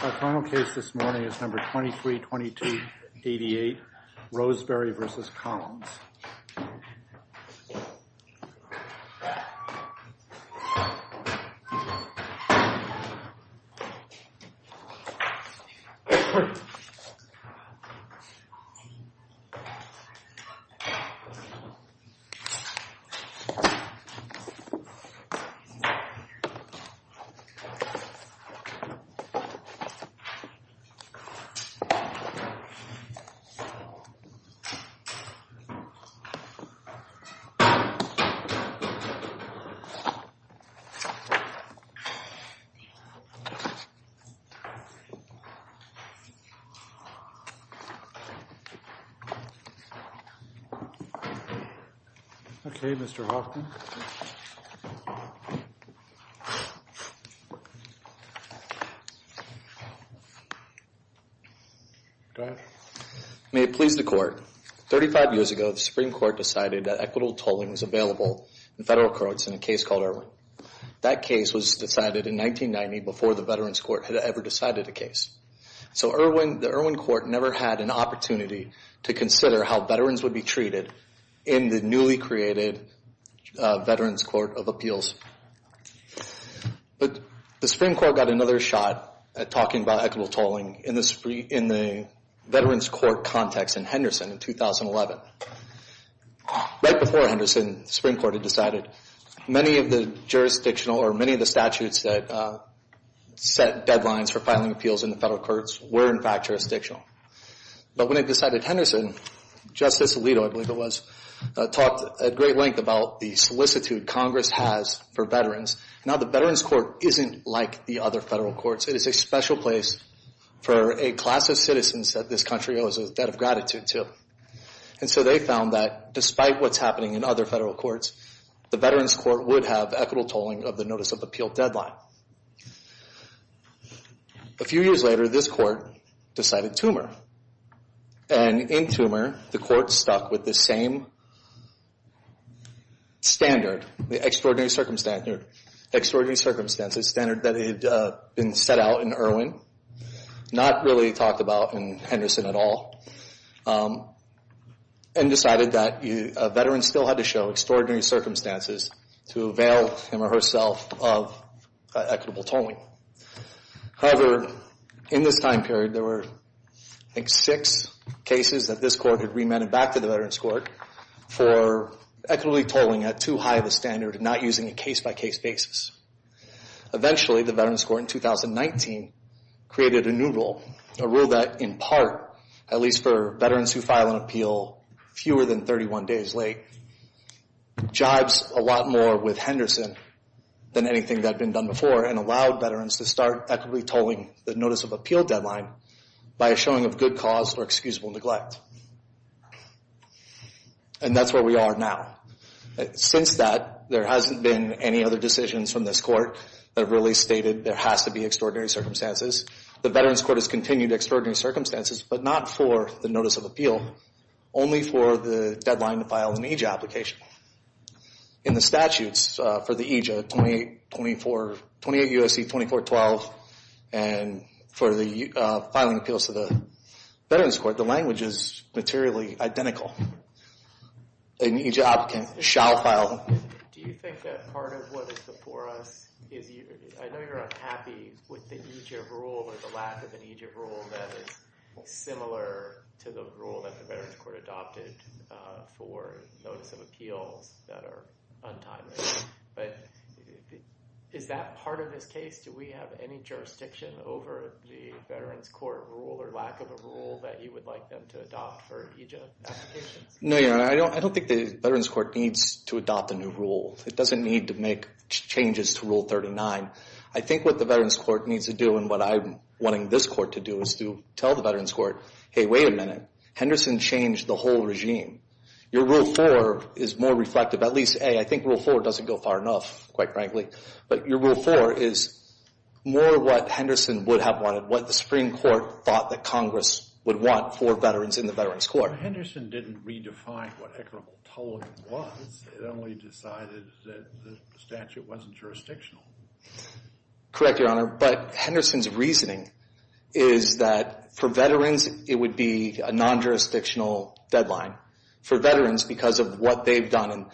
Our final case this morning is number 232288, Roseberry v. Collins. Okay, Mr. Hoffman. May it please the court, 35 years ago the Supreme Court decided that equitable tolling was available in federal courts in a case called Irwin. That case was decided in 1990 before the Veterans Court had ever decided a case. So the Irwin Court never had an opportunity to consider how veterans would be treated in the newly created Veterans Court of Appeals. But the Supreme Court got another shot at talking about equitable tolling in the Veterans Court context in Henderson in 2011. Right before Henderson, the Supreme Court had decided many of the jurisdictional or many of the statutes that set deadlines for filing appeals in the federal courts were in fact jurisdictional. But when it decided Henderson, Justice Alito, I believe it was, talked at great length about the solicitude Congress has for veterans. Now the Veterans Court isn't like the other federal courts. It is a special place for a class of citizens that this country owes a debt of gratitude to. And so they found that despite what's happening in other federal courts, the Veterans Court would have equitable tolling of the notice of appeal deadline. A few years later, this court decided Toomer. And in Toomer, the court stuck with the same standard, the extraordinary circumstances standard that had been set out in Irwin, not really talked about in Henderson at all, and decided that veterans still had to show extraordinary circumstances to avail him or herself of equitable tolling. However, in this time period, there were, I think, six cases that this court had remanded back to the Veterans Court for equitably tolling at too high of a standard and not using a case-by-case basis. Eventually, the Veterans Court in 2019 created a new rule, a rule that in part, at least for veterans who file an appeal fewer than 31 days late, jibes a lot more with Henderson than anything that had been done before and allowed veterans to start equitably tolling the notice of appeal deadline by a showing of good cause or excusable neglect. And that's where we are now. Since that, there hasn't been any other decisions from this court that really stated there has to be extraordinary circumstances. The Veterans Court has continued extraordinary circumstances, but not for the notice of appeal, only for the deadline to file an EJIA application. In the statutes for the EJIA, 28 U.S.C. 2412, and for the filing appeals to the Veterans Court, the language is materially identical. An EJIA applicant shall file. Do you think that part of what is before us is I know you're unhappy with the EJIA rule over the lack of an EJIA rule that is similar to the rule that the Veterans Court adopted for notice of appeals that are untimely? But is that part of this case? Do we have any jurisdiction over the Veterans Court rule or lack of a rule that you would like them to adopt for EJIA applications? No, Your Honor. I don't think the Veterans Court needs to adopt a new rule. It doesn't need to make changes to Rule 39. I think what the Veterans Court needs to do and what I'm wanting this court to do is to tell the Veterans Court, hey, wait a minute. Henderson changed the whole regime. Your Rule 4 is more reflective. At least, A, I think Rule 4 doesn't go far enough, quite frankly. But your Rule 4 is more what Henderson would have wanted, what the Supreme Court thought that Congress would want for veterans in the Veterans Court. Henderson didn't redefine what equitable tolerance was. It only decided that the statute wasn't jurisdictional. Correct, Your Honor. But Henderson's reasoning is that for veterans it would be a non-jurisdictional deadline. For veterans, because of what they've done, and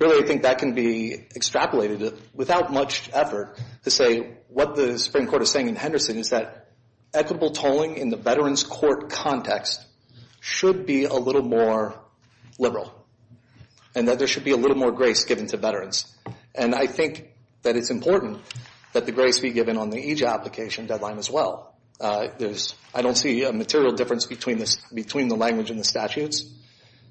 really I think that can be extrapolated without much effort to say what the Supreme Court is saying in Henderson is that equitable tolling in the Veterans Court context should be a little more liberal and that there should be a little more grace given to veterans. And I think that it's important that the grace be given on the EJA application deadline as well. I don't see a material difference between the language and the statutes.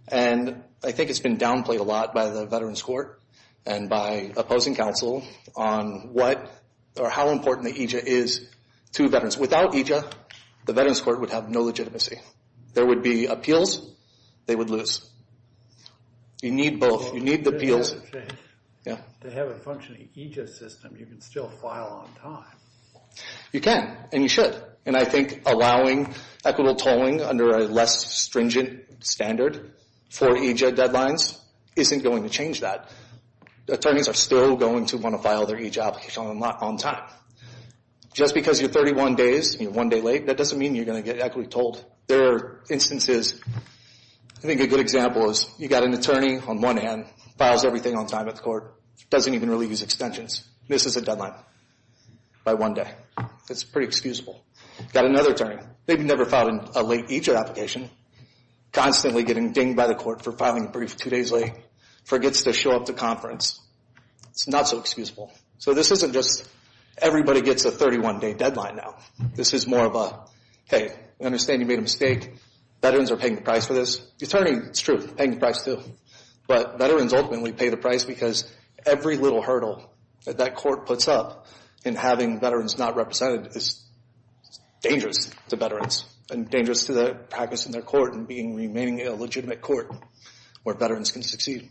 And I think it's been downplayed a lot by the Veterans Court and by opposing counsel on what or how important the EJA is to veterans. Without EJA, the Veterans Court would have no legitimacy. There would be appeals. They would lose. You need both. You need the appeals. To have a functioning EJA system, you can still file on time. You can and you should. And I think allowing equitable tolling under a less stringent standard for EJA deadlines isn't going to change that. Attorneys are still going to want to file their EJA application on time. Just because you're 31 days and you're one day late, that doesn't mean you're going to get equitably tolled. There are instances. I think a good example is you've got an attorney on one hand, files everything on time at the court, doesn't even really use extensions, misses a deadline by one day. That's pretty excusable. You've got another attorney. They've never filed a late EJA application, constantly getting dinged by the court for filing a brief two days late, forgets to show up to conference. It's not so excusable. So this isn't just everybody gets a 31-day deadline now. This is more of a, hey, I understand you made a mistake. Veterans are paying the price for this. The attorney, it's true, paying the price too. But veterans ultimately pay the price because every little hurdle that that court puts up in having veterans not represented is dangerous to veterans and dangerous to the practice in their court and remaining a legitimate court where veterans can succeed.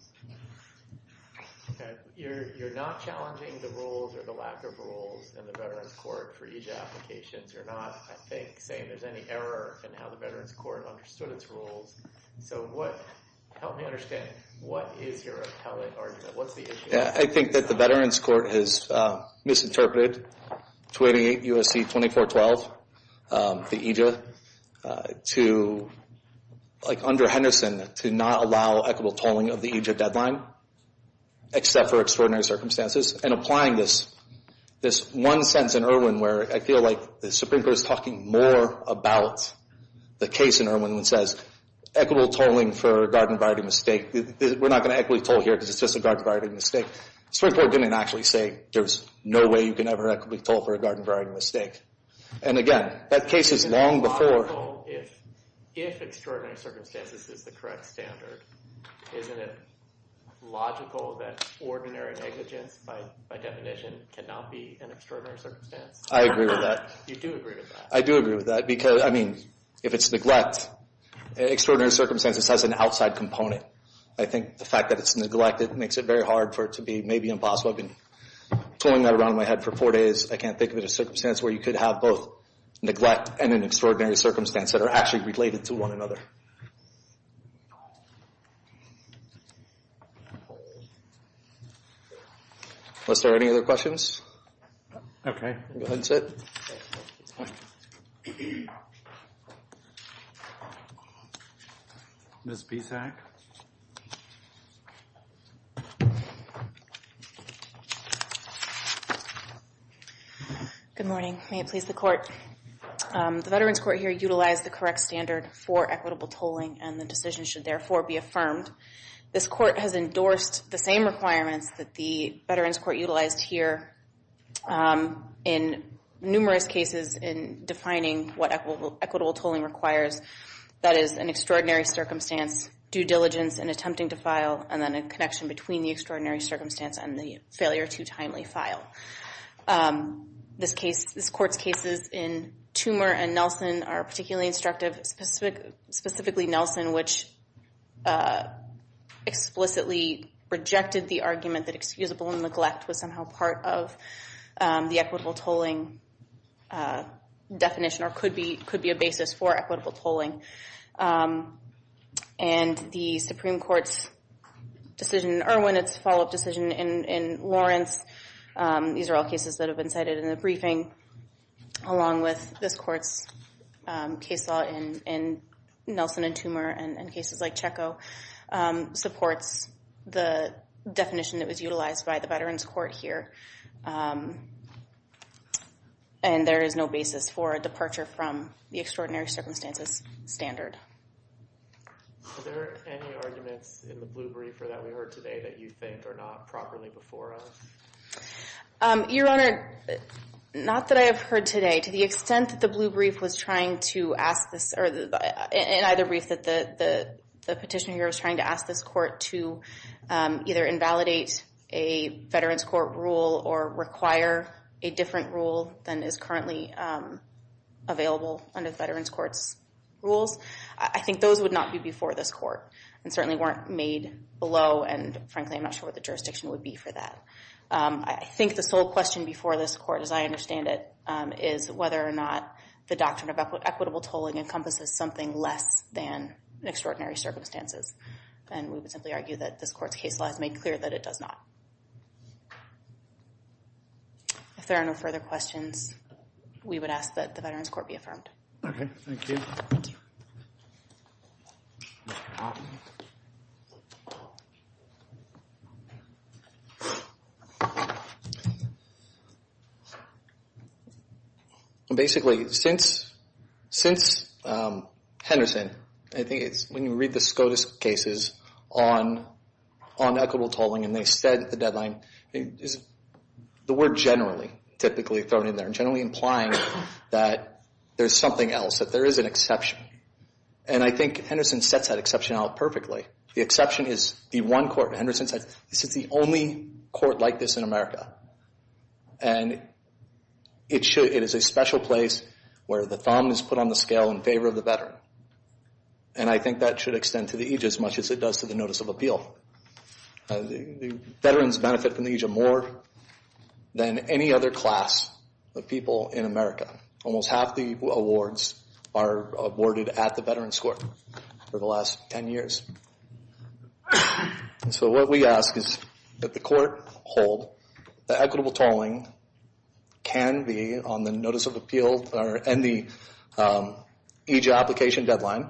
You're not challenging the rules or the lack of rules in the Veterans Court for EJA applications. You're not, I think, saying there's any error in how the Veterans Court understood its rules. So help me understand, what is your appellate argument? What's the issue? I think that the Veterans Court has misinterpreted 288 U.S.C. 2412, the EJA, to, like under Henderson, to not allow equitable tolling of the EJA deadline except for extraordinary circumstances. And applying this, this one sentence in Irwin where I feel like the Supreme Court is talking more about the case in Irwin that says, equitable tolling for a garden variety mistake. We're not going to equitably toll here because it's just a garden variety mistake. The Supreme Court didn't actually say there's no way you can ever equitably toll for a garden variety mistake. And again, that case is long before. If extraordinary circumstances is the correct standard, isn't it logical that ordinary negligence by definition cannot be an extraordinary circumstance? I agree with that. You do agree with that? I do agree with that because, I mean, if it's neglect, extraordinary circumstances has an outside component. I think the fact that it's neglected makes it very hard for it to be maybe impossible. I've been tolling that around in my head for four days. I can't think of a circumstance where you could have both neglect and an extraordinary circumstance that are actually related to one another. Are there any other questions? Okay. Go ahead and sit. Ms. Bissac? Good morning. May it please the Court. The Veterans Court here utilized the correct standard for equitable tolling, and the decision should therefore be affirmed. This Court has endorsed the same requirements that the Veterans Court utilized here in numerous cases in defining what equitable tolling requires. That is, an extraordinary circumstance, due diligence, and attempting to file, and then a connection between the extraordinary circumstance and the failure to timely file. This Court's cases in Toomer and Nelson are particularly instructive, specifically Nelson, which explicitly rejected the argument that excusable neglect was somehow part of the equitable tolling definition or could be a basis for equitable tolling. And the Supreme Court's decision in Irwin, its follow-up decision in Lawrence, these are all cases that have been cited in the briefing, along with this Court's case law in Nelson and Toomer and cases like Checco supports the definition that was utilized by the Veterans Court here. And there is no basis for a departure from the extraordinary circumstances standard. Are there any arguments in the blue brief that we heard today that you think are not properly before us? Your Honor, not that I have heard today. To the extent that the blue brief was trying to ask this, or in either brief that the petitioner here was trying to ask this Court to either invalidate a Veterans Court rule or require a different rule than is currently available under the Veterans Court's rules, I think those would not be before this Court and certainly weren't made below, and frankly I'm not sure what the jurisdiction would be for that. I think the sole question before this Court, as I understand it, is whether or not the doctrine of equitable tolling encompasses something less than extraordinary circumstances. And we would simply argue that this Court's case law has made clear that it does not. If there are no further questions, we would ask that the Veterans Court be affirmed. Okay, thank you. Thank you. Basically, since Henderson, I think it's when you read the SCOTUS cases on equitable tolling and they said the deadline, the word generally, typically thrown in there, generally implying that there's something else, that there is an exception. And I think Henderson sets that exception out perfectly. The exception is the one court. Henderson says this is the only court like this in America, and it is a special place where the thumb is put on the scale in favor of the veteran. And I think that should extend to the aegis much as it does to the Notice of Appeal. Veterans benefit from the aegis more than any other class of people in America. Almost half the awards are awarded at the Veterans Court for the last 10 years. So what we ask is that the Court hold that equitable tolling can be on the Notice of Appeal and the aegis application deadline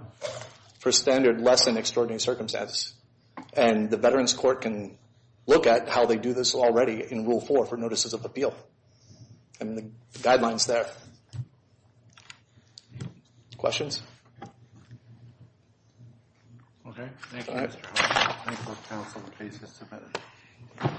for standard less than extraordinary circumstances. And the Veterans Court can look at how they do this already in Rule 4 for Notices of Appeal. And the guidelines there. Questions? Okay. All right. Thank you.